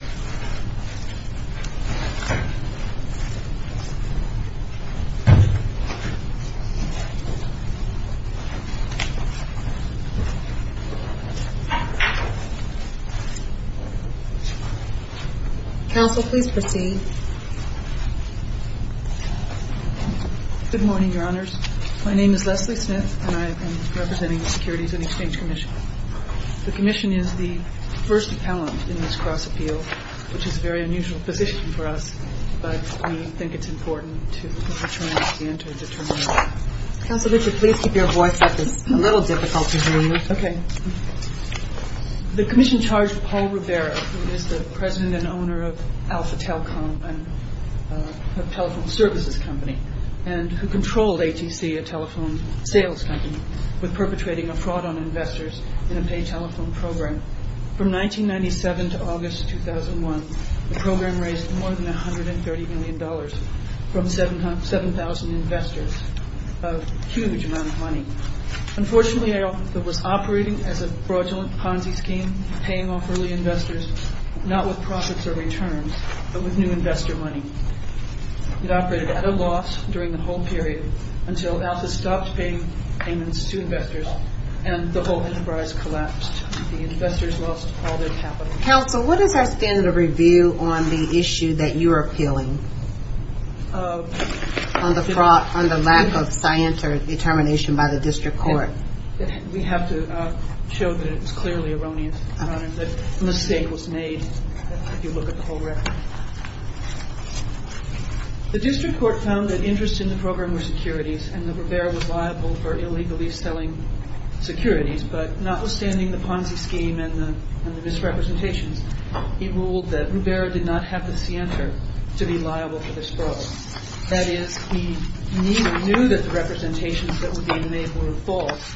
Good morning, Your Honors. My name is Leslie Smith and I am representing the Securities and Exchange Commission. The Commission is the first appellant in this cross-appeal, which is a very unusual position for us, but we think it's important to try and understand to determine. Counsel Richard, please keep your voice up. It's a little difficult to hear you. Okay. The Commission charged Paul Rubera, who is the president and owner of Alpha Telcom, a telephone services company, and who controlled ATC, a telephone sales company, with perpetrating a fraud on investors in a pay telephone program. From 1997 to August 2001, the program raised more than $130 million from 7,000 investors, a huge amount of money. Unfortunately, Alpha was operating as a fraudulent Ponzi scheme, paying off early investors, not with profits or returns, but with new investor money. It operated at a loss during the whole period until Alpha stopped paying payments to investors and the whole enterprise collapsed. The investors lost all their capital. Counsel, what is our standard of review on the issue that you are appealing, on the lack of science or determination by the district court? We have to show that it's clearly erroneous, Your Honors, that a mistake was made, if you look at the whole record. The district court found that interest in the program were securities and that Rubera was liable for illegally selling securities, but notwithstanding the Ponzi scheme and the misrepresentations, he ruled that Rubera did not have the scienter to be liable for this fraud. That is, he neither knew that the representations that were being made were false,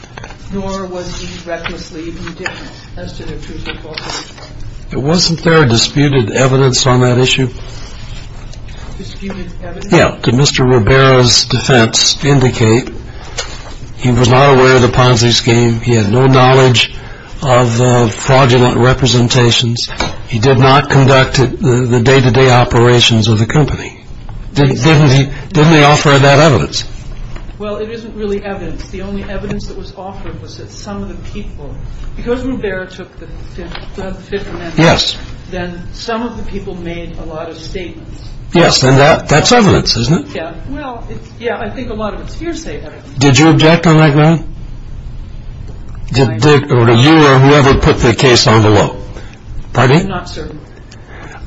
nor was he recklessly indifferent as to their truth or falsehood. Wasn't there disputed evidence on that issue? Disputed evidence? Yeah. Did Mr. Rubera's defense indicate he was not aware of the Ponzi scheme, he had no knowledge of fraudulent representations, he did not conduct the day-to-day operations of the company? Didn't he offer that evidence? Well, it isn't really evidence. The only evidence that was offered was that some of the people, because Rubera took the Fifth Amendment, then some of the people made a lot of statements. Yes, and that's evidence, isn't it? Yeah, well, yeah, I think a lot of it's hearsay. Did you object on that ground? Did you or whoever put the case on the law? I'm not certain.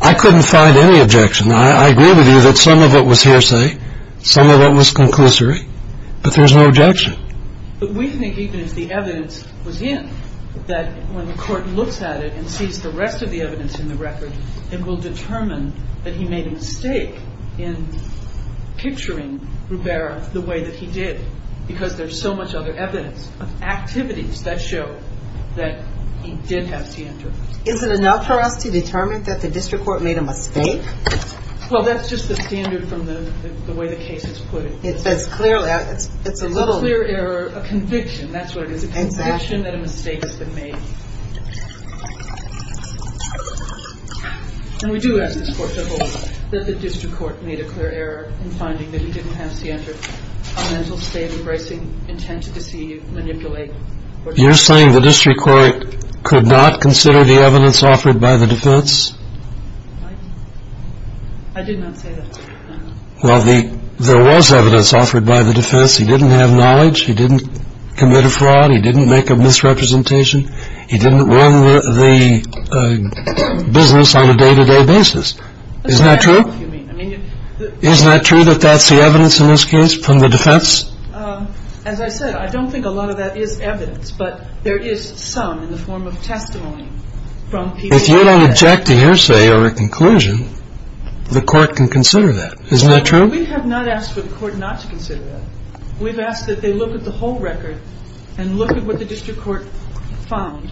I couldn't find any objection. I agree with you that some of it was hearsay, some of it was conclusory, but there's no objection. But we think even if the evidence was in, that when the court looks at it and sees the rest of the evidence in the record, it will determine that he made a mistake in picturing Rubera the way that he did, because there's so much other evidence of activities that show that he did have scienter. Is it enough for us to determine that the district court made a mistake? Well, that's just the standard from the way the case is put. It's clearly a conviction. That's what it is, a conviction that a mistake has been made. And we do ask this court to hold that the district court made a clear error in finding that he didn't have scienter, a mental state embracing intent to deceive, manipulate. You're saying the district court could not consider the evidence offered by the defense? I did not say that. Well, there was evidence offered by the defense. He didn't have knowledge. He didn't commit a fraud. He didn't make a misrepresentation. He didn't run the business on a day-to-day basis. Isn't that true? Isn't that true that that's the evidence in this case from the defense? As I said, I don't think a lot of that is evidence, but there is some in the form of testimony from people. If you don't object to hearsay or a conclusion, the court can consider that. Isn't that true? We have not asked for the court not to consider that. We've asked that they look at the whole record and look at what the district court found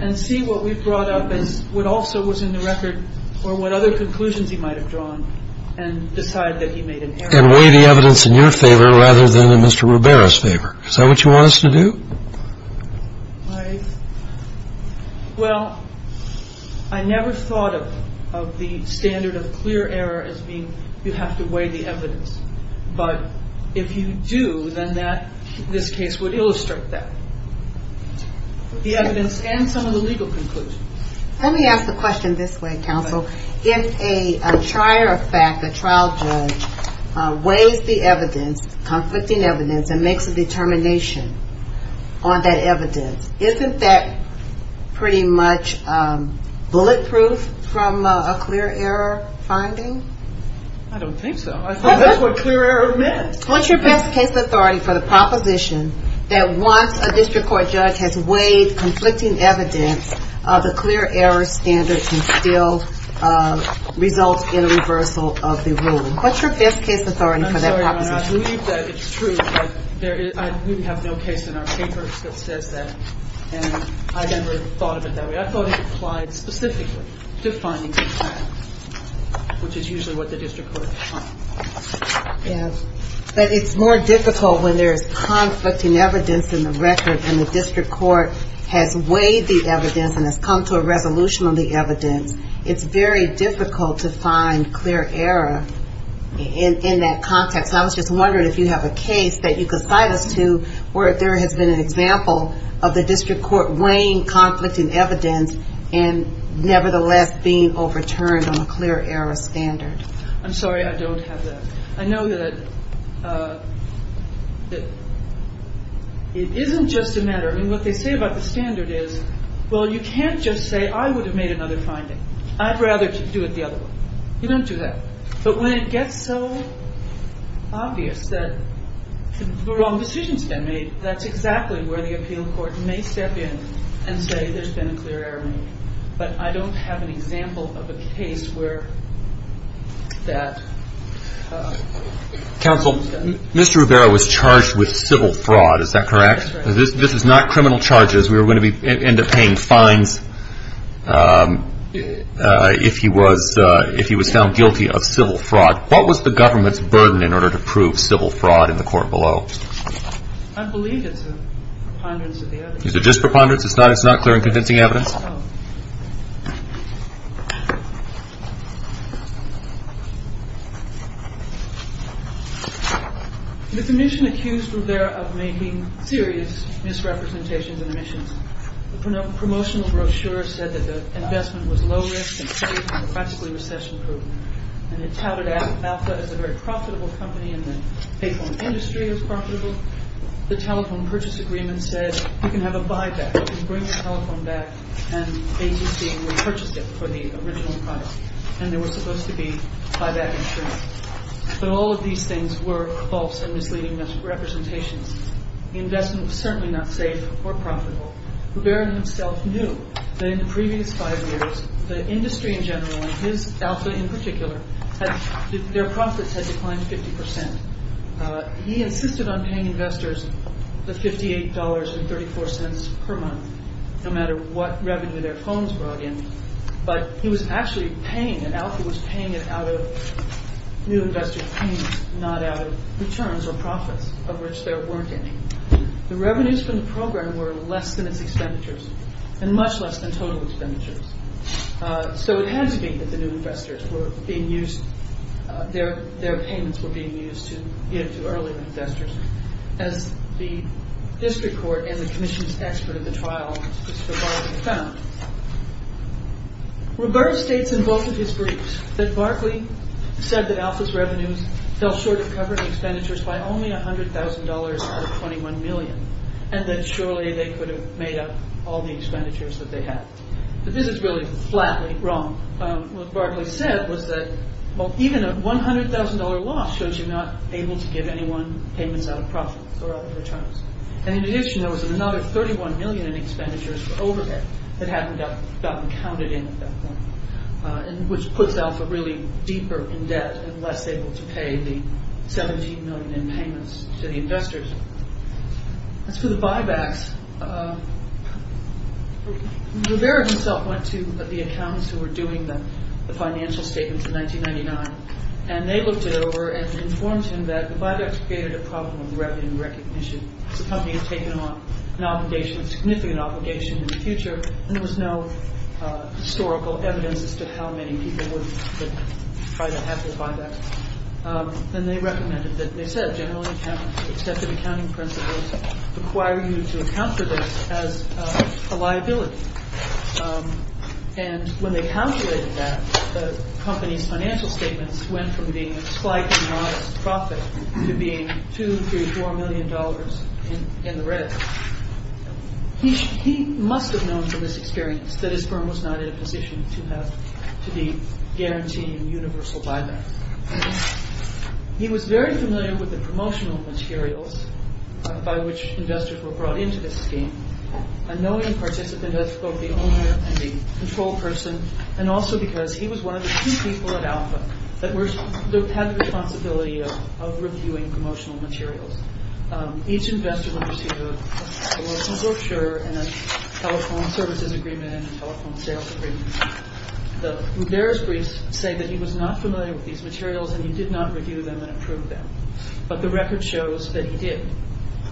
and see what we've brought up as what also was in the record or what other conclusions he might have drawn and decide that he made an error. And weigh the evidence in your favor rather than in Mr. Ribeiro's favor. Is that what you want us to do? Well, I never thought of the standard of clear error as being you have to weigh the evidence. But if you do, then this case would illustrate that, the evidence and some of the legal conclusions. Let me ask the question this way, counsel. If a trial judge weighs the evidence, conflicting evidence, and makes a determination on that evidence, isn't that pretty much bulletproof from a clear error finding? I don't think so. I thought that's what clear error meant. What's your best case authority for the proposition that once a district court judge has weighed conflicting evidence, the clear error standard can still result in a reversal of the rule? What's your best case authority for that proposition? I'm sorry, Your Honor. I believe that it's true. I believe we have no case in our papers that says that. And I never thought of it that way. I thought it applied specifically to findings in trial, which is usually what the district court has found. But it's more difficult when there's conflicting evidence in the record and the district court has weighed the evidence and has come to a resolution on the evidence. It's very difficult to find clear error in that context. I was just wondering if you have a case that you could cite us to where there has been an example of the district court weighing conflicting evidence and nevertheless being overturned on a clear error standard. I'm sorry. I don't have that. I know that it isn't just a matter. I mean, what they say about the standard is, well, you can't just say, I would have made another finding. I'd rather do it the other way. You don't do that. But when it gets so obvious that the wrong decision's been made, that's exactly where the appeal court may step in and say there's been a clear error made. But I don't have an example of a case where that is done. Counsel, Mr. Ribeiro was charged with civil fraud. Is that correct? This is not criminal charges. We were going to end up paying fines if he was found guilty of civil fraud. What was the government's burden in order to prove civil fraud in the court below? I believe it's a preponderance of the evidence. Is it just preponderance? It's not clear and convincing evidence? No. The commission accused Ribeiro of making serious misrepresentations and omissions. The promotional brochure said that the investment was low-risk and safe and practically recession-proof. And it touted Alpha as a very profitable company and that the payphone industry was profitable. The telephone purchase agreement said you can have a buyback. You can bring your telephone back and ATC repurchased it for the original price. And there was supposed to be buyback insurance. But all of these things were false and misleading representations. The investment was certainly not safe or profitable. Ribeiro himself knew that in the previous five years, the industry in general and his Alpha in particular, their profits had declined 50%. He insisted on paying investors the $58.34 per month, no matter what revenue their phones brought in. But he was actually paying, and Alpha was paying it out of new investor payments, not out of returns or profits, of which there weren't any. The revenues from the program were less than its expenditures and much less than total expenditures. So it had to be that the new investors were being used, their payments were being used to earlier investors, as the district court and the commission's expert at the trial was survivably found. Ribeiro states in both of his briefs that Barclay said that Alpha's revenues fell short of covering expenditures by only $100,000 out of $21 million and that surely they could have made up all the expenditures that they had. But this is really flatly wrong. What Barclay said was that even a $100,000 loss shows you're not able to give anyone payments out of profits or out of returns. And in addition, there was another $31 million in expenditures for overhead that hadn't gotten counted in at that point, which puts Alpha really deeper in debt and less able to pay the $17 million in payments to the investors. As for the buybacks, Ribeiro himself went to the accountants who were doing the financial statements in 1999 and they looked it over and informed him that the buybacks created a problem with revenue recognition. The company had taken on an obligation, a significant obligation in the future, and there was no historical evidence as to how many people would try to have those buybacks. And they recommended that, they said, generally accepted accounting principles require you to account for this as a liability. And when they calculated that, the company's financial statements went from being a slightly modest profit to being $2, $3, $4 million in the red. He must have known from his experience that his firm was not in a position to be guaranteeing universal buybacks. He was very familiar with the promotional materials by which investors were brought into this scheme. A knowing participant as both the owner and the control person and also because he was one of the few people at Alpha that had the responsibility of reviewing promotional materials. Each investor would receive a brochure and a telephone services agreement and a telephone sales agreement. The Ribera's briefs say that he was not familiar with these materials and he did not review them and approve them. But the record shows that he did.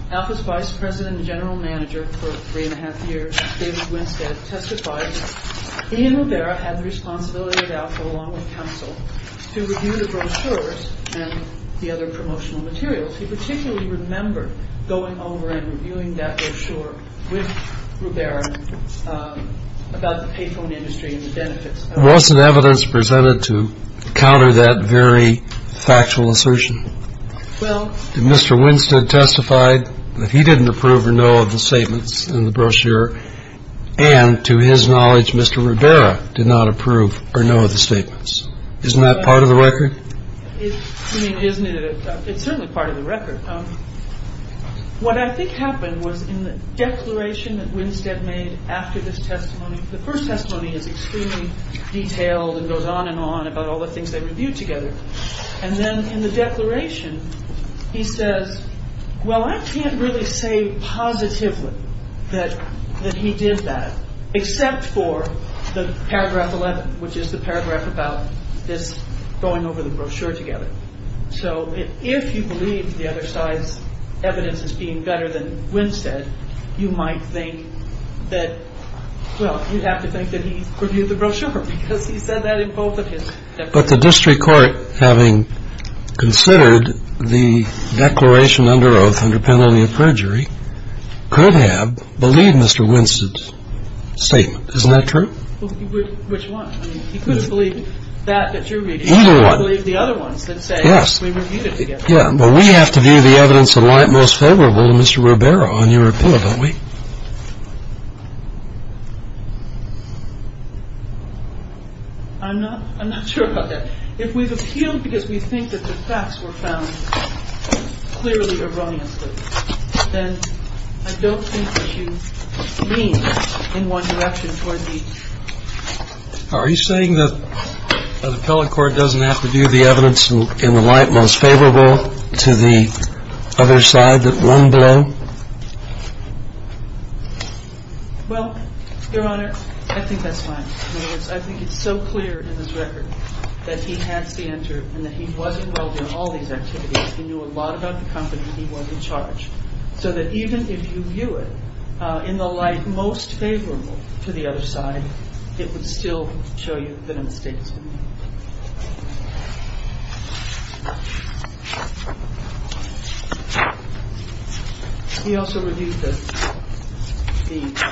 Alpha's vice president and general manager for three and a half years, David Winstead, testified that he and Ribera had the responsibility at Alpha along with counsel to review the brochures and the other promotional materials. He particularly remembered going over and reviewing that brochure with Ribera about the payphone industry and the benefits. What's the evidence presented to counter that very factual assertion? Did Mr. Winstead testify that he didn't approve or no of the statements in the brochure and to his knowledge Mr. Ribera did not approve or no of the statements? Isn't that part of the record? I mean, isn't it? It's certainly part of the record. What I think happened was in the declaration that Winstead made after this testimony, the first testimony is extremely detailed and goes on and on about all the things they reviewed together. And then in the declaration, he says, well, I can't really say positively that he did that except for the paragraph 11, which is the paragraph about this going over the brochure together. So if you believe the other side's evidence is being better than Winstead, you might think that, well, you'd have to think that he reviewed the brochure because he said that in both of his statements. But the district court, having considered the declaration under oath under penalty of perjury, could have believed Mr. Winstead's statement. Isn't that true? Well, which one? I mean, he could have believed that that you're reading. Either one. He could have believed the other ones that say we reviewed it together. Yes. Yeah, but we have to view the evidence in light most favorable to Mr. Ribera on your appeal, don't we? I'm not sure about that. If we've appealed because we think that the facts were found clearly erroneously, then I don't think that you lean in one direction toward the other. Are you saying that an appellate court doesn't have to view the evidence in the light most favorable to the other side, that one below? Well, Your Honor, I think that's fine. I think it's so clear in this record that he has to enter and that he wasn't well during all these activities. He knew a lot about the company. He wasn't charged. So that even if you view it in the light most favorable to the other side, it would still show you that a mistake was made. He also reviewed the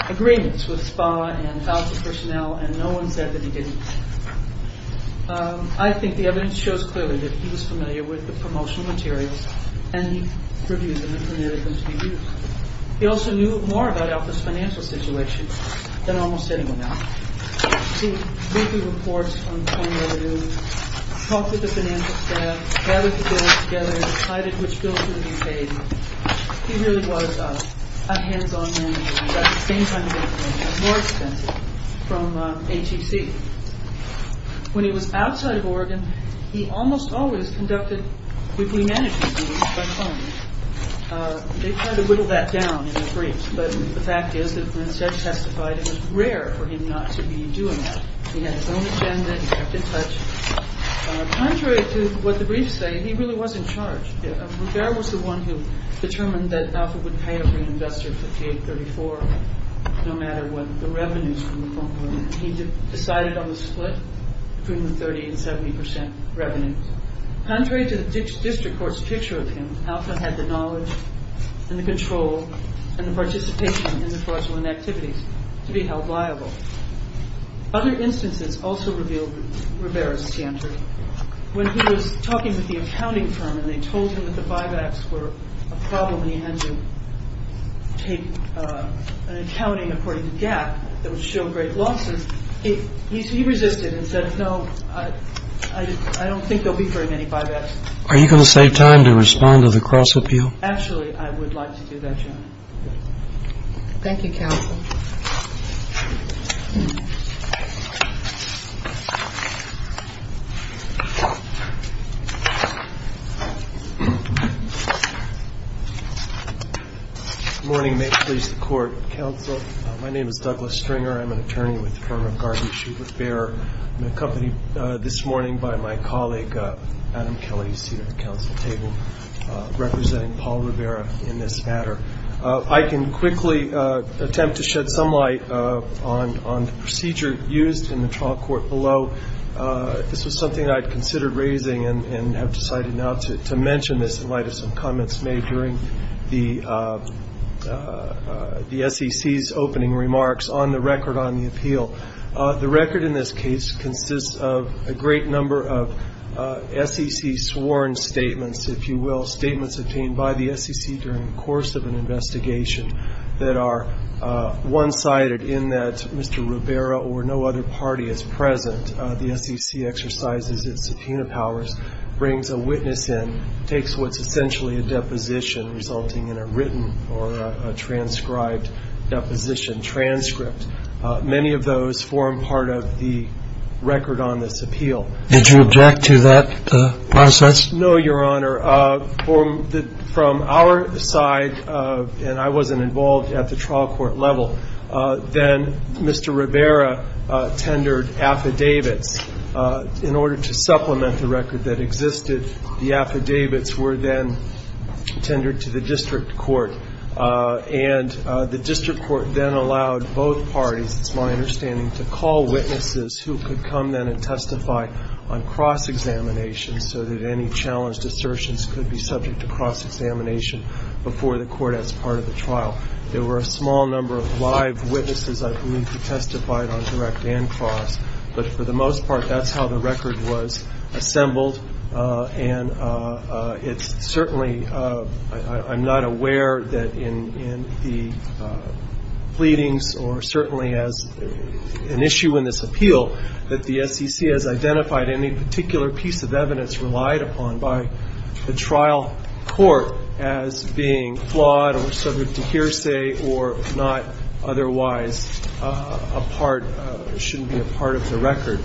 agreements with SPA and other personnel. And no one said that he didn't. I think the evidence shows clearly that he was familiar with the promotional materials and reviewed them and permitted them to be used. He also knew more about Alpha's financial situation than almost anyone else. He did weekly reports on foreign revenue, talked with the financial staff, gathered the bills together and decided which bills would be paid. He really was a hands-on manager. At the same time, he was more expensive, from HEC. When he was outside of Oregon, he almost always conducted weekly management meetings by phone. They kind of whittled that down in the briefs. But the fact is that when Seth testified, it was rare for him not to be doing that. He had his own agenda. He had to touch. Contrary to what the briefs say, he really wasn't charged. Rivera was the one who determined that Alpha would pay every investor 58.34, no matter what the revenues from the phone were. He decided on the split between the 30 and 70 percent revenues. Contrary to the district court's picture of him, Alpha had the knowledge and the control and the participation in the fraudulent activities to be held liable. Other instances also revealed Rivera's standard. When he was talking with the accounting firm and they told him that the buybacks were a problem and he had to take an accounting according to GAP that would show great losses, he resisted and said, no, I don't think there will be very many buybacks. Are you going to save time to respond to the cross-appeal? Actually, I would like to do that, John. Thank you, counsel. Good morning. May it please the court. Counsel, my name is Douglas Stringer. I'm an attorney with the firm of Garvey Shubert Behr. I'm accompanied this morning by my colleague, Adam Kelly, seat of the council table, representing Paul Rivera in this matter. I can quickly attempt to shed some light on the procedure used in the trial court below. This was something I'd considered raising and have decided now to mention this in light of some comments made during the SEC's opening remarks. On the record on the appeal, the record in this case consists of a great number of SEC sworn statements, if you will, statements obtained by the SEC during the course of an investigation that are one-sided in that Mr. Rivera or no other party is present. The SEC exercises its subpoena powers, brings a witness in, takes what's essentially a deposition resulting in a written or a transcribed deposition transcript. Many of those form part of the record on this appeal. Did you object to that process? No, Your Honor. From our side, and I wasn't involved at the trial court level, then Mr. Rivera tendered affidavits. In order to supplement the record that existed, the affidavits were then tendered to the district court. And the district court then allowed both parties, it's my understanding, to call witnesses who could come then and testify on cross-examination so that any challenged assertions could be subject to cross-examination before the court as part of the trial. There were a small number of live witnesses, I believe, who testified on direct and cross. But for the most part, that's how the record was assembled. And it's certainly, I'm not aware that in the pleadings or certainly as an issue in this appeal that the SEC has identified any particular piece of evidence relied upon by the trial court as being flawed or subject to hearsay or not otherwise a part, shouldn't be a part of the record.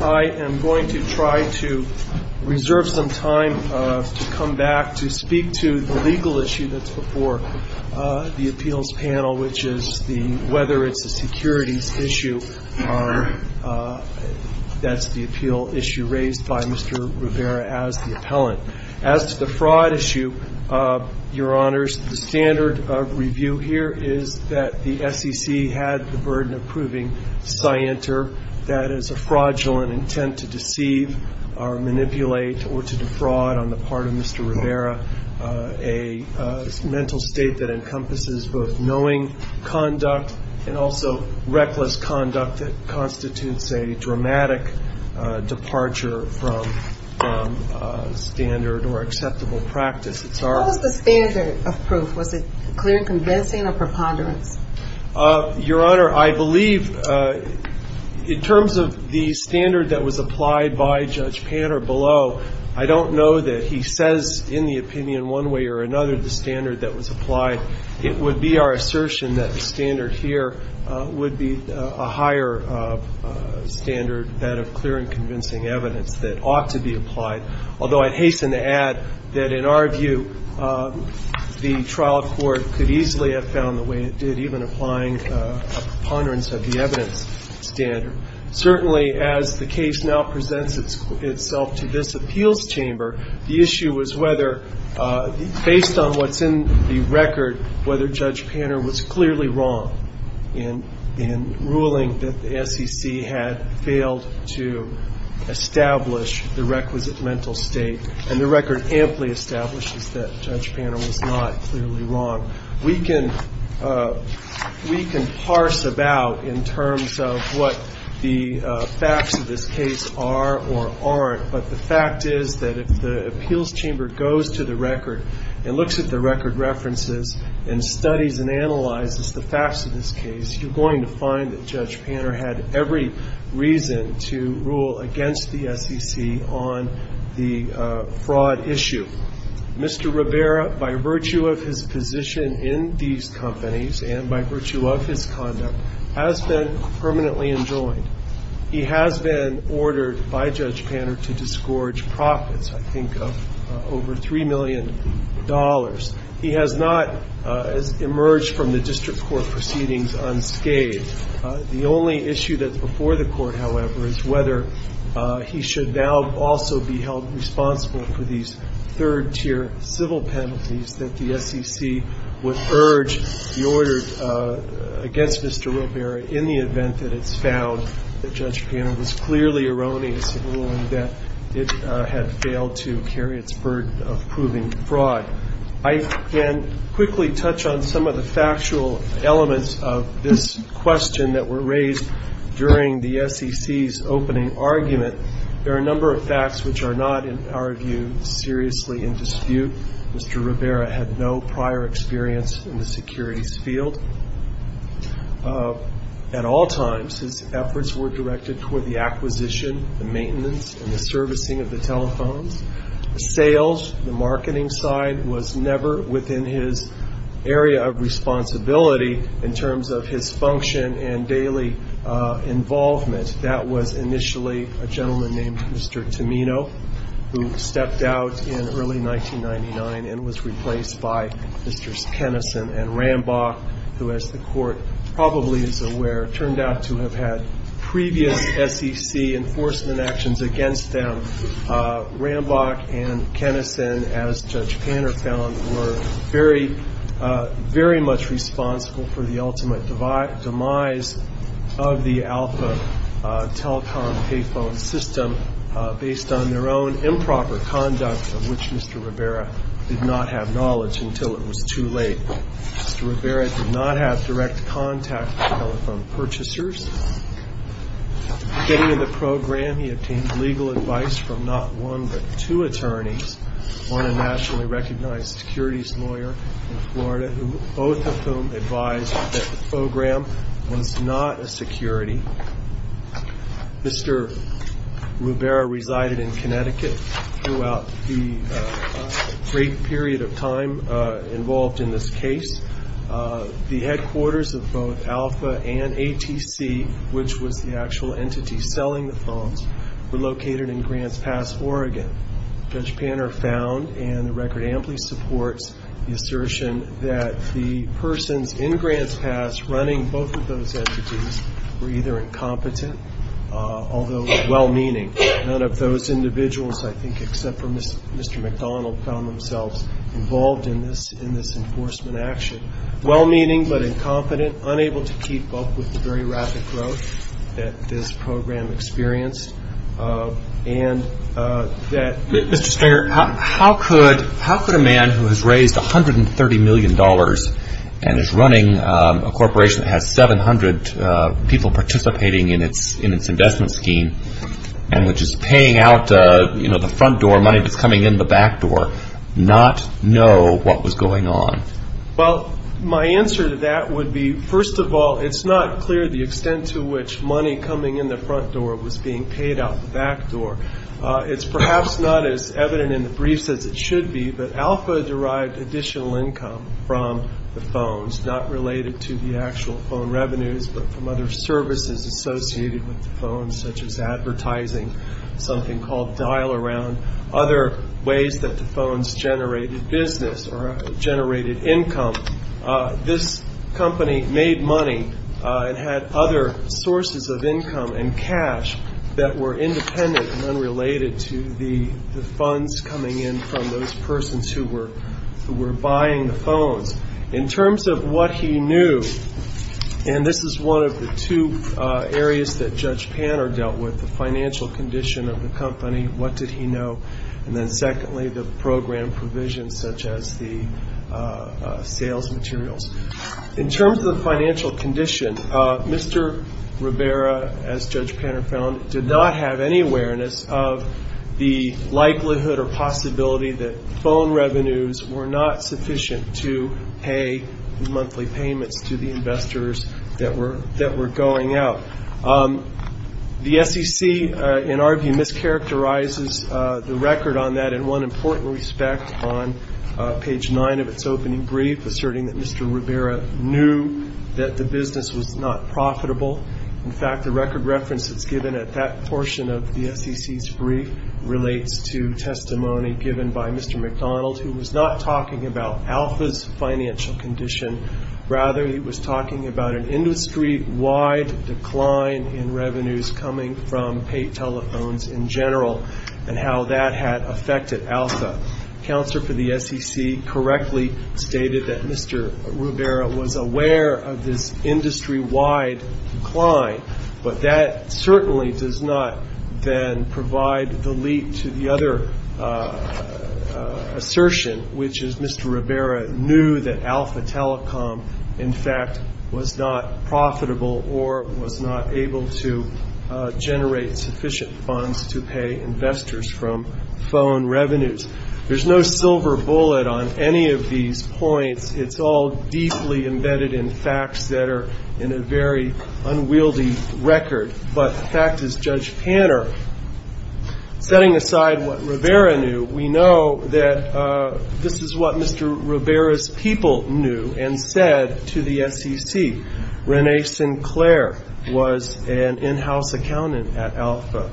I am going to try to reserve some time to come back to speak to the legal issue that's before the appeals panel, which is the whether it's a securities issue, that's the appeal issue raised by Mr. Rivera as the appellant. As to the fraud issue, Your Honors, the standard of review here is that the SEC had the burden of proving scienter, that is a fraudulent intent to deceive or manipulate or to defraud on the part of Mr. Rivera, a mental state that encompasses both knowing conduct and also reckless conduct that constitutes a dramatic departure from standard or acceptable practice. What was the standard of proof? Was it clear and convincing or preponderance? Your Honor, I believe in terms of the standard that was applied by Judge Panner below, I don't know that he says in the opinion one way or another the standard that was applied. It would be our assertion that the standard here would be a higher standard, that of clear and convincing evidence that ought to be applied, although I'd hasten to add that in our view the trial court could easily have found the way it did, even applying a preponderance of the evidence standard. Certainly as the case now presents itself to this appeals chamber, the issue was whether based on what's in the record whether Judge Panner was clearly wrong in ruling that the SEC had failed to establish the requisite mental state, and the record amply establishes that Judge Panner was not clearly wrong. We can parse about in terms of what the facts of this case are or aren't, but the fact is that if the appeals chamber goes to the record and looks at the record references and studies and analyzes the facts of this case, you're going to find that Judge Panner had every reason to rule against the SEC on the fraud issue. Mr. Rivera, by virtue of his position in these companies and by virtue of his conduct, has been permanently enjoined. He has been ordered by Judge Panner to disgorge profits, I think, of over $3 million. He has not emerged from the district court proceedings unscathed. The only issue that's before the Court, however, is whether he should now also be held responsible for these third-tier civil penalties that the SEC would urge the order against Mr. Rivera in the event that it's found that Judge Panner was clearly erroneous in ruling that it had failed to carry its burden of proving fraud. I can quickly touch on some of the factual elements of this question that were raised during the SEC's opening argument. There are a number of facts which are not, in our view, seriously in dispute. Mr. Rivera had no prior experience in the securities field at all times. His efforts were directed toward the acquisition, the maintenance, and the servicing of the telephones. Sales, the marketing side, was never within his area of responsibility in terms of his function and daily involvement. That was initially a gentleman named Mr. Tomino, who stepped out in early 1999 and was replaced by Mrs. Kenison and Rambach, who, as the Court probably is aware, turned out to have had previous SEC enforcement actions against them. Rambach and Kenison, as Judge Panner found, were very, very much responsible for the ultimate demise of the Alpha Telecom payphone system based on their own improper conduct, of which Mr. Rivera did not have knowledge until it was too late. Mr. Rivera did not have direct contact with telephone purchasers. At the beginning of the program, he obtained legal advice from not one but two attorneys, one a nationally recognized securities lawyer in Florida, both of whom advised that the program was not a security. Mr. Rivera resided in Connecticut throughout the great period of time involved in this case. The headquarters of both Alpha and ATC, which was the actual entity selling the phones, were located in Grants Pass, Oregon. Judge Panner found, and the record amply supports the assertion, that the persons in Grants Pass running both of those entities were either incompetent, although well-meaning. None of those individuals, I think, except for Mr. McDonald, found themselves involved in this enforcement action. Well-meaning but incompetent, unable to keep up with the very rapid growth that this program experienced, and that- Mr. Stringer, how could a man who has raised $130 million and is running a corporation that has 700 people participating in its investment scheme and which is paying out the front door money that's coming in the back door not know what was going on? Well, my answer to that would be, first of all, it's not clear the extent to which money coming in the front door was being paid out the back door. It's perhaps not as evident in the briefs as it should be, but Alpha derived additional income from the phones, not related to the actual phone revenues, but from other services associated with the phones, such as advertising, something called dial-around, other ways that the phones generated business or generated income. This company made money and had other sources of income and cash that were independent and unrelated to the funds coming in from those persons who were buying the phones. In terms of what he knew, and this is one of the two areas that Judge Panner dealt with, the financial condition of the company, what did he know, and then secondly, the program provisions such as the sales materials. In terms of the financial condition, Mr. Rivera, as Judge Panner found, did not have any awareness of the likelihood or possibility that phone revenues were not sufficient to pay monthly payments to the investors that were going out. The SEC, in our view, mischaracterizes the record on that in one important respect on page nine of its opening brief, asserting that Mr. Rivera knew that the business was not profitable. In fact, the record reference that's given at that portion of the SEC's brief relates to testimony given by Mr. McDonald, who was not talking about Alpha's financial condition. Rather, he was talking about an industry-wide decline in revenues coming from paid telephones in general and how that had affected Alpha. Counsel for the SEC correctly stated that Mr. Rivera was aware of this industry-wide decline, but that certainly does not then provide the leap to the other assertion, which is Mr. Rivera knew that Alpha Telecom, in fact, was not profitable or was not able to generate sufficient funds to pay investors from phone revenues. There's no silver bullet on any of these points. It's all deeply embedded in facts that are in a very unwieldy record. But the fact is, Judge Panner, setting aside what Rivera knew, we know that this is what Mr. Rivera's people knew and said to the SEC. Renee Sinclair was an in-house accountant at Alpha.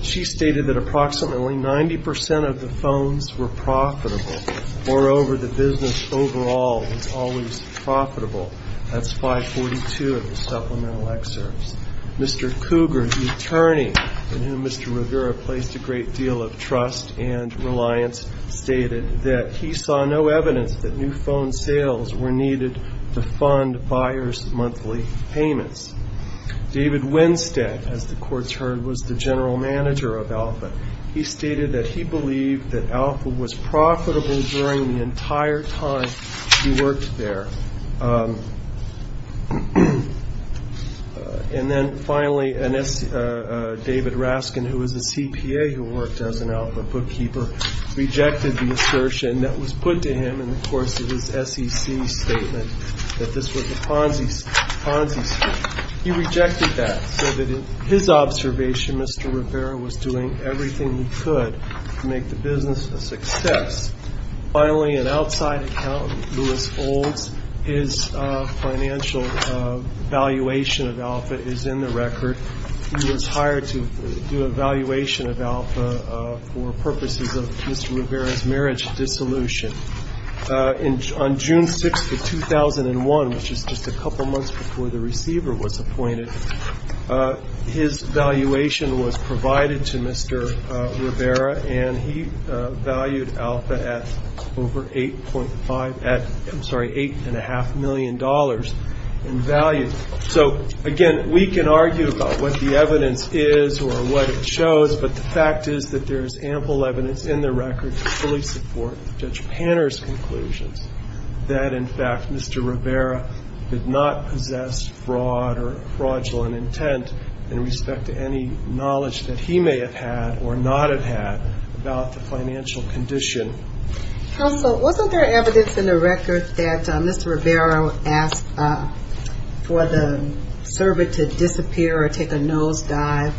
She stated that approximately 90 percent of the phones were profitable. Moreover, the business overall was always profitable. That's 542 of the supplemental excerpts. Mr. Cougar, the attorney in whom Mr. Rivera placed a great deal of trust and reliance, stated that he saw no evidence that new phone sales were needed to fund buyer's monthly payments. David Winstead, as the courts heard, was the general manager of Alpha. He stated that he believed that Alpha was profitable during the entire time he worked there. And then finally, David Raskin, who was a CPA who worked as an Alpha bookkeeper, rejected the assertion that was put to him in the course of his SEC statement, that this was a Ponzi scheme. He rejected that, so that in his observation, Mr. Rivera was doing everything he could to make the business a success. Finally, an outside accountant, Louis Olds, his financial valuation of Alpha is in the record. He was hired to do a valuation of Alpha for purposes of Mr. Rivera's marriage dissolution. On June 6th of 2001, which is just a couple months before the receiver was appointed, his valuation was provided to Mr. Rivera, and he valued Alpha at over $8.5 million in value. So, again, we can argue about what the evidence is or what it shows, but the fact is that there is ample evidence in the record to fully support Judge Panner's conclusions, that, in fact, Mr. Rivera did not possess fraud or fraudulent intent in respect to any knowledge that he may have had or not have had about the financial condition. Counsel, wasn't there evidence in the record that Mr. Rivera asked for the servant to disappear or take a nosedive?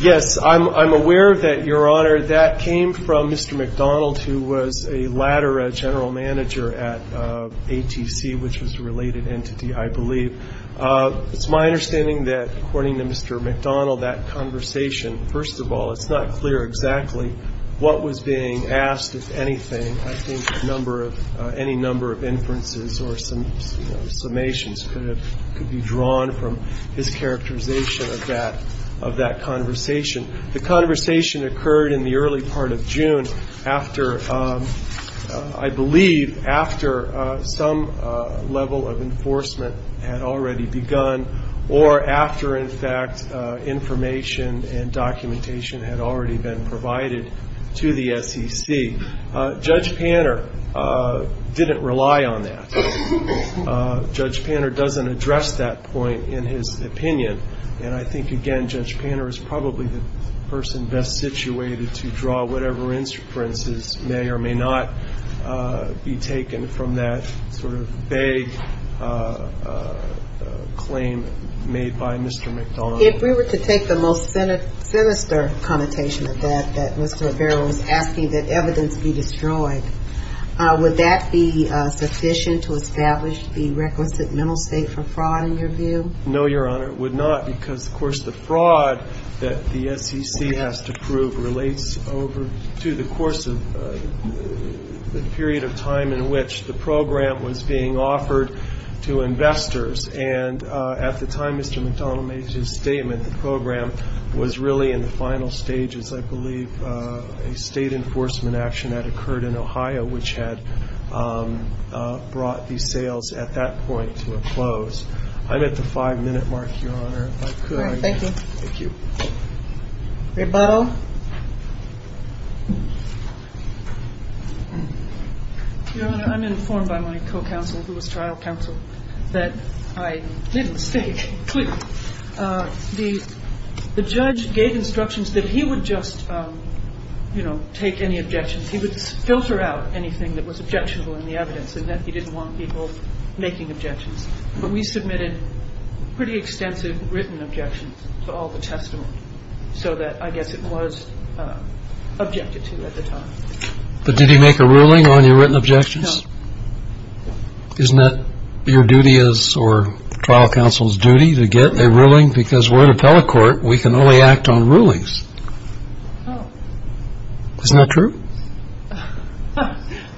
Yes, I'm aware of that, Your Honor. That came from Mr. McDonald, who was a latter general manager at ATC, which was a related entity, I believe. It's my understanding that, according to Mr. McDonald, that conversation, first of all, it's not clear exactly what was being asked of anything. I think any number of inferences or summations could be drawn from his characterization of that conversation. The conversation occurred in the early part of June after, I believe, after some level of enforcement had already begun or after, in fact, information and documentation had already been provided to the SEC. Judge Panner didn't rely on that. Judge Panner doesn't address that point in his opinion, and I think, again, Judge Panner is probably the person best situated to draw whatever inferences may or may not be taken from that sort of vague claim made by Mr. McDonald. If we were to take the most sinister connotation of that, that Mr. Rivera was asking that evidence be destroyed, would that be sufficient to establish the requisite mental state for fraud, in your view? No, Your Honor, it would not, because, of course, the fraud that the SEC has to prove relates over to the course of the period of time in which the program was being offered to investors, and at the time Mr. McDonald made his statement, the program was really in the final stages, I believe. A state enforcement action had occurred in Ohio, which had brought the sales at that point to a close. I'm at the five-minute mark, Your Honor, if I could. Rebuttal. Your Honor, I'm informed by my co-counsel, who was trial counsel, that I did mistake. The judge gave instructions that he would just, you know, take any objections. He would just filter out anything that was objectionable in the evidence, and that he didn't want people making objections. But we submitted pretty extensive written objections to all the testimony, so that I guess it was objected to at the time. But did he make a ruling on your written objections? No. Isn't that your duty, or trial counsel's duty, to get a ruling? Because we're at a telecourt, we can only act on rulings. Isn't that true?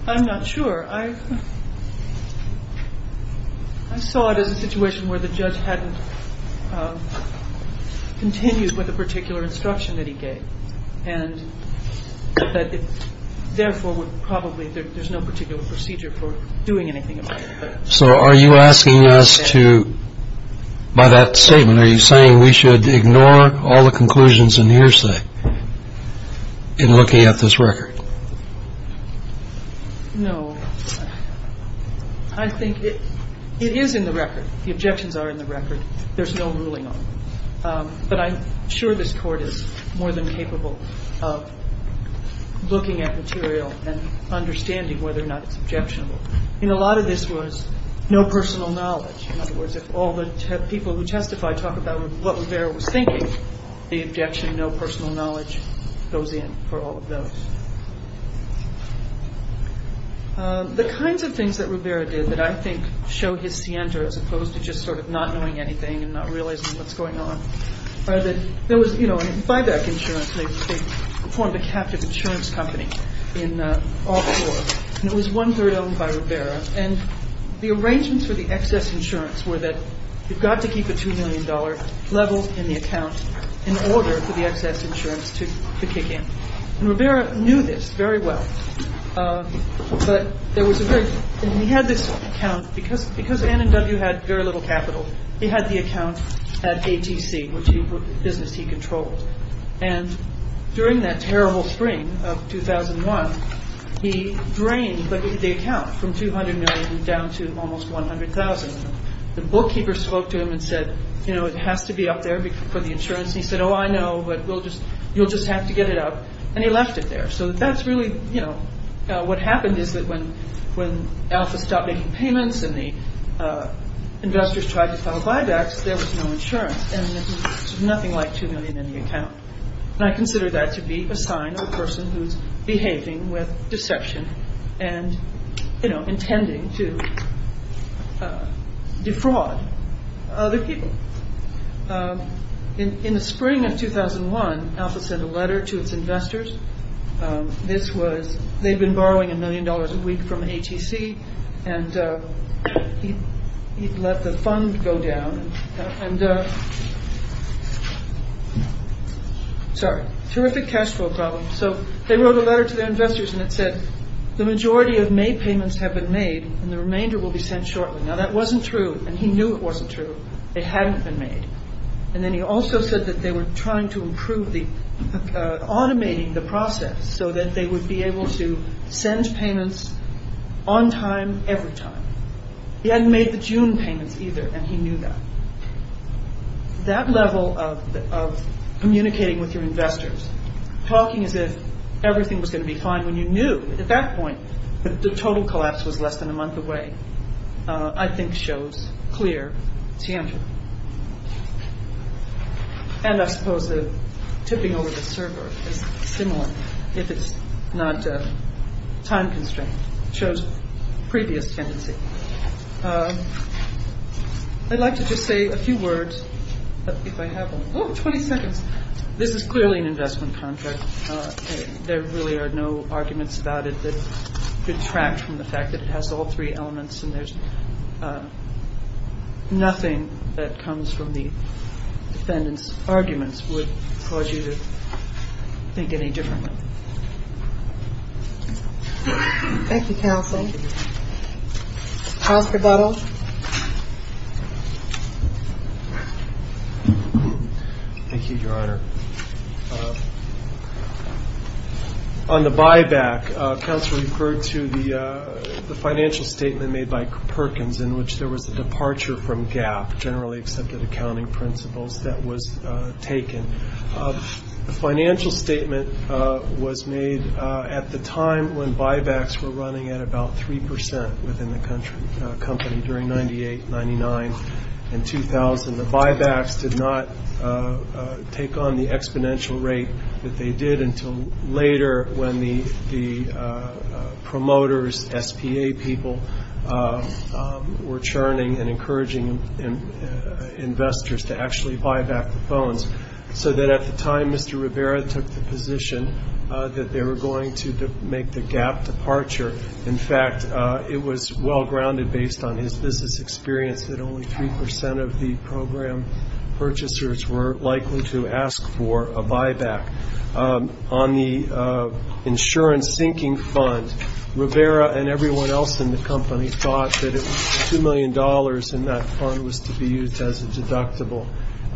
I'm not sure. I saw it as a situation where the judge hadn't continued with a particular instruction that he gave, and that it therefore would probably, there's no particular procedure for doing anything about it. So are you asking us to, by that statement, are you saying we should ignore all the conclusions in the hearsay in looking at this record? No. The objections are in the record. There's no ruling on them. But I'm sure this court is more than capable of looking at material and understanding whether or not it's objectionable. I mean, a lot of this was no personal knowledge. In other words, if all the people who testified talk about what Rivera was thinking, the objection, no personal knowledge, goes in for all of those. The kinds of things that Rivera did that I think show his scienter, as opposed to just sort of not knowing anything and not realizing what's going on, are that there was, you know, in FIBAC insurance, they formed a captive insurance company in all four, and it was one-third owned by Rivera. And the arrangements for the excess insurance were that you've got to keep a $2 million level in the account in order for the excess insurance to kick in. And Rivera knew this very well. But there was a very, and he had this account, because Ann and W had very little capital, he had the account at ATC, which was the business he controlled. And during that terrible spring of 2001, he drained the account from $200 million down to almost $100,000. The bookkeeper spoke to him and said, you know, it has to be up there for the insurance. And he left it there, so that's really, you know, what happened is that when Alpha stopped making payments and the investors tried to file buybacks, there was no insurance, and there's nothing like $2 million in the account. And I consider that to be a sign of a person who's behaving with deception and, you know, intending to defraud other people. In the spring of 2001, Alpha sent a letter to its investors. This was they'd been borrowing a million dollars a week from ATC. And he let the fund go down and. Sorry, terrific cash flow problem. So they wrote a letter to their investors and it said the majority of May payments have been made and the remainder will be sent shortly. Now, that wasn't true, and he knew it wasn't true. It hadn't been made. And then he also said that they were trying to improve the automating the process so that they would be able to send payments on time every time. He hadn't made the June payments either, and he knew that. That level of communicating with your investors, talking as if everything was going to be fine when you knew at that point that the total collapse was less than a month away. I think shows clear. And I suppose the tipping over the server is similar. If it's not time constraint shows previous tendency. I'd like to just say a few words, but if I have 20 seconds, this is clearly an investment contract. There really are no arguments about it that detract from the fact that it has all three elements. And there's nothing that comes from the defendants. Arguments would cause you to think any different. Thank you, Counsel. Thank you, Your Honor. On the buyback, Counsel referred to the financial statement made by Perkins in which there was a departure from GAAP, generally accepted accounting principles, that was taken. The financial statement was made at the time when buybacks were running at about 3 percent within the company during 98, 99, and 2000. The buybacks did not take on the exponential rate that they did until later when the promoters, SPA people, were churning and encouraging investors to actually buy back the phones. So that at the time Mr. Rivera took the position that they were going to make the GAAP departure. In fact, it was well grounded based on his business experience that only 3 percent of the program purchasers were likely to ask for a buyback. On the insurance sinking fund, Rivera and everyone else in the company thought that it was $2 million and that fund was to be used as a deductible.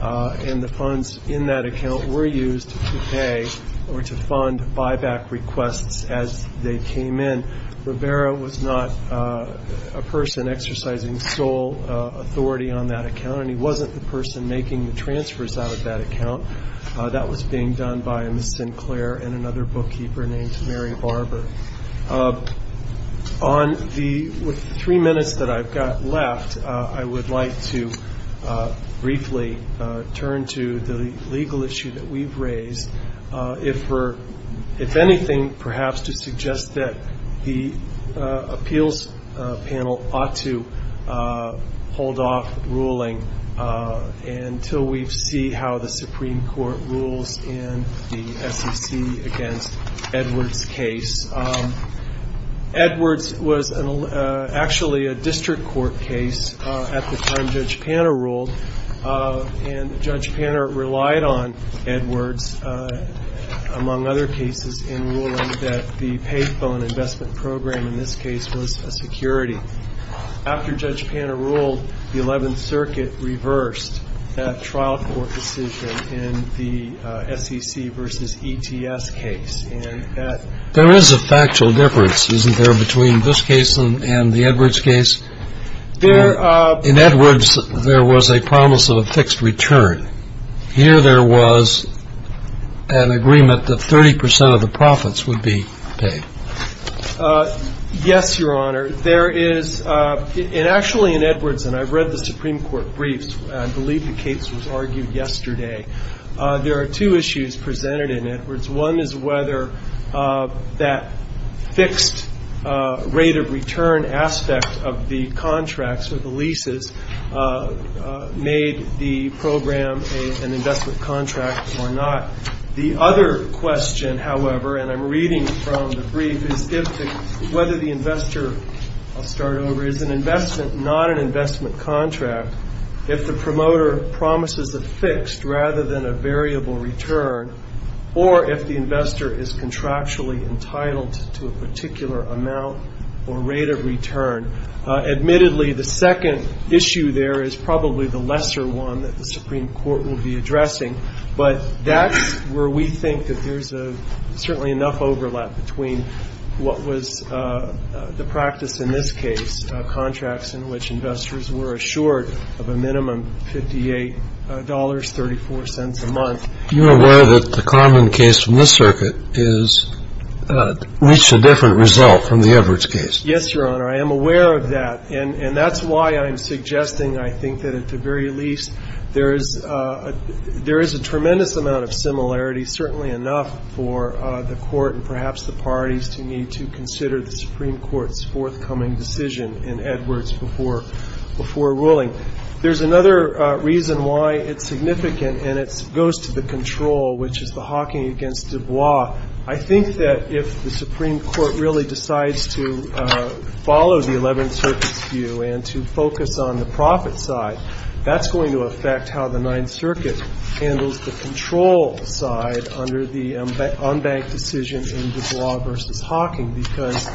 And the funds in that account were used to pay or to fund buyback requests as they came in. Rivera was not a person exercising sole authority on that account and he wasn't the person making the transfers out of that account. That was being done by a Ms. Sinclair and another bookkeeper named Mary Barber. On the three minutes that I've got left, I would like to briefly turn to the legal issue that we've raised. If anything, perhaps to suggest that the appeals panel ought to hold off ruling until we see how the Supreme Court rules in the SEC against Edwards' case. Edwards was actually a district court case at the time Judge Panner ruled and Judge Panner relied on Edwards. Among other cases in ruling that the payphone investment program in this case was a security. After Judge Panner ruled, the 11th Circuit reversed that trial court decision in the SEC versus ETS case. There is a factual difference, isn't there, between this case and the Edwards case? In Edwards there was a promise of a fixed return. Here there was an agreement that 30 percent of the profits would be paid. Yes, Your Honor. There is, and actually in Edwards, and I've read the Supreme Court briefs, I believe the case was argued yesterday. There are two issues presented in Edwards. One is whether that fixed rate of return aspect of the contracts or the leases made the program, an investment contract or not. The other question, however, and I'm reading from the brief, is whether the investor, I'll start over, is an investment, not an investment contract, if the promoter promises a fixed rather than a variable return, or if the investor is contractually entitled to a particular amount or rate of return. Admittedly, the second issue there is probably the lesser one that the Supreme Court will be addressing. But that's where we think that there's certainly enough overlap between what was the practice in this case, contracts in which investors were assured of a minimum $58.34 a month. Are you aware that the common case from this circuit is, reached a different result from the Edwards case? Yes, Your Honor, I am aware of that, and that's why I'm suggesting, I think, that at the very least, there is a tremendous amount of similarity, certainly enough for the Court and perhaps the parties to need to consider the Supreme Court's forthcoming decision in Edwards before ruling. There's another reason why it's significant, and it goes to the control, which is the hawking against Dubois. I think that if the Supreme Court really decides to follow the Eleventh Circuit's view and to focus on the profit side, that's going to affect how the Ninth Circuit handles the control side under the unbanked decision in Dubois v. Hawking, because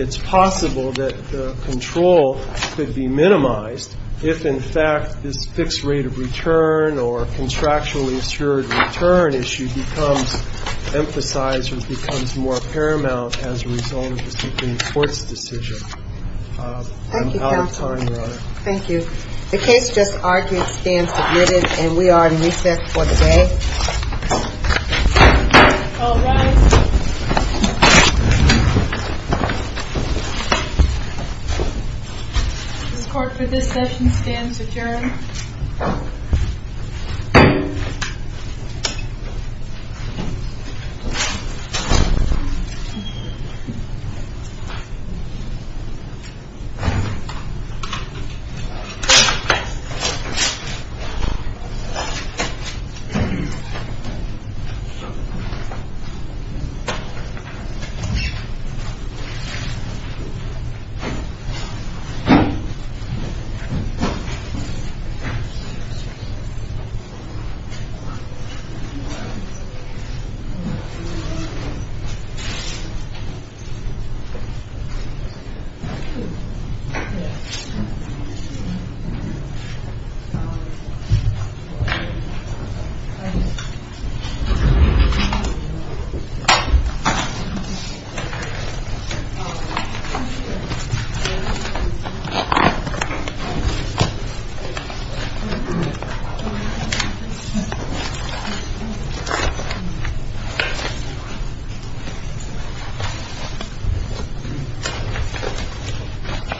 it's possible that the control could be minimized, if, in fact, this fixed rate of return or contractually assured return issue becomes important. And I think that's the reason why it's significant. Thank you, Your Honor. The case just argued stands admitted, and we are in recess for the day. All rise. This Court, for this session, stands adjourned. Thank you. Thank you. Thank you.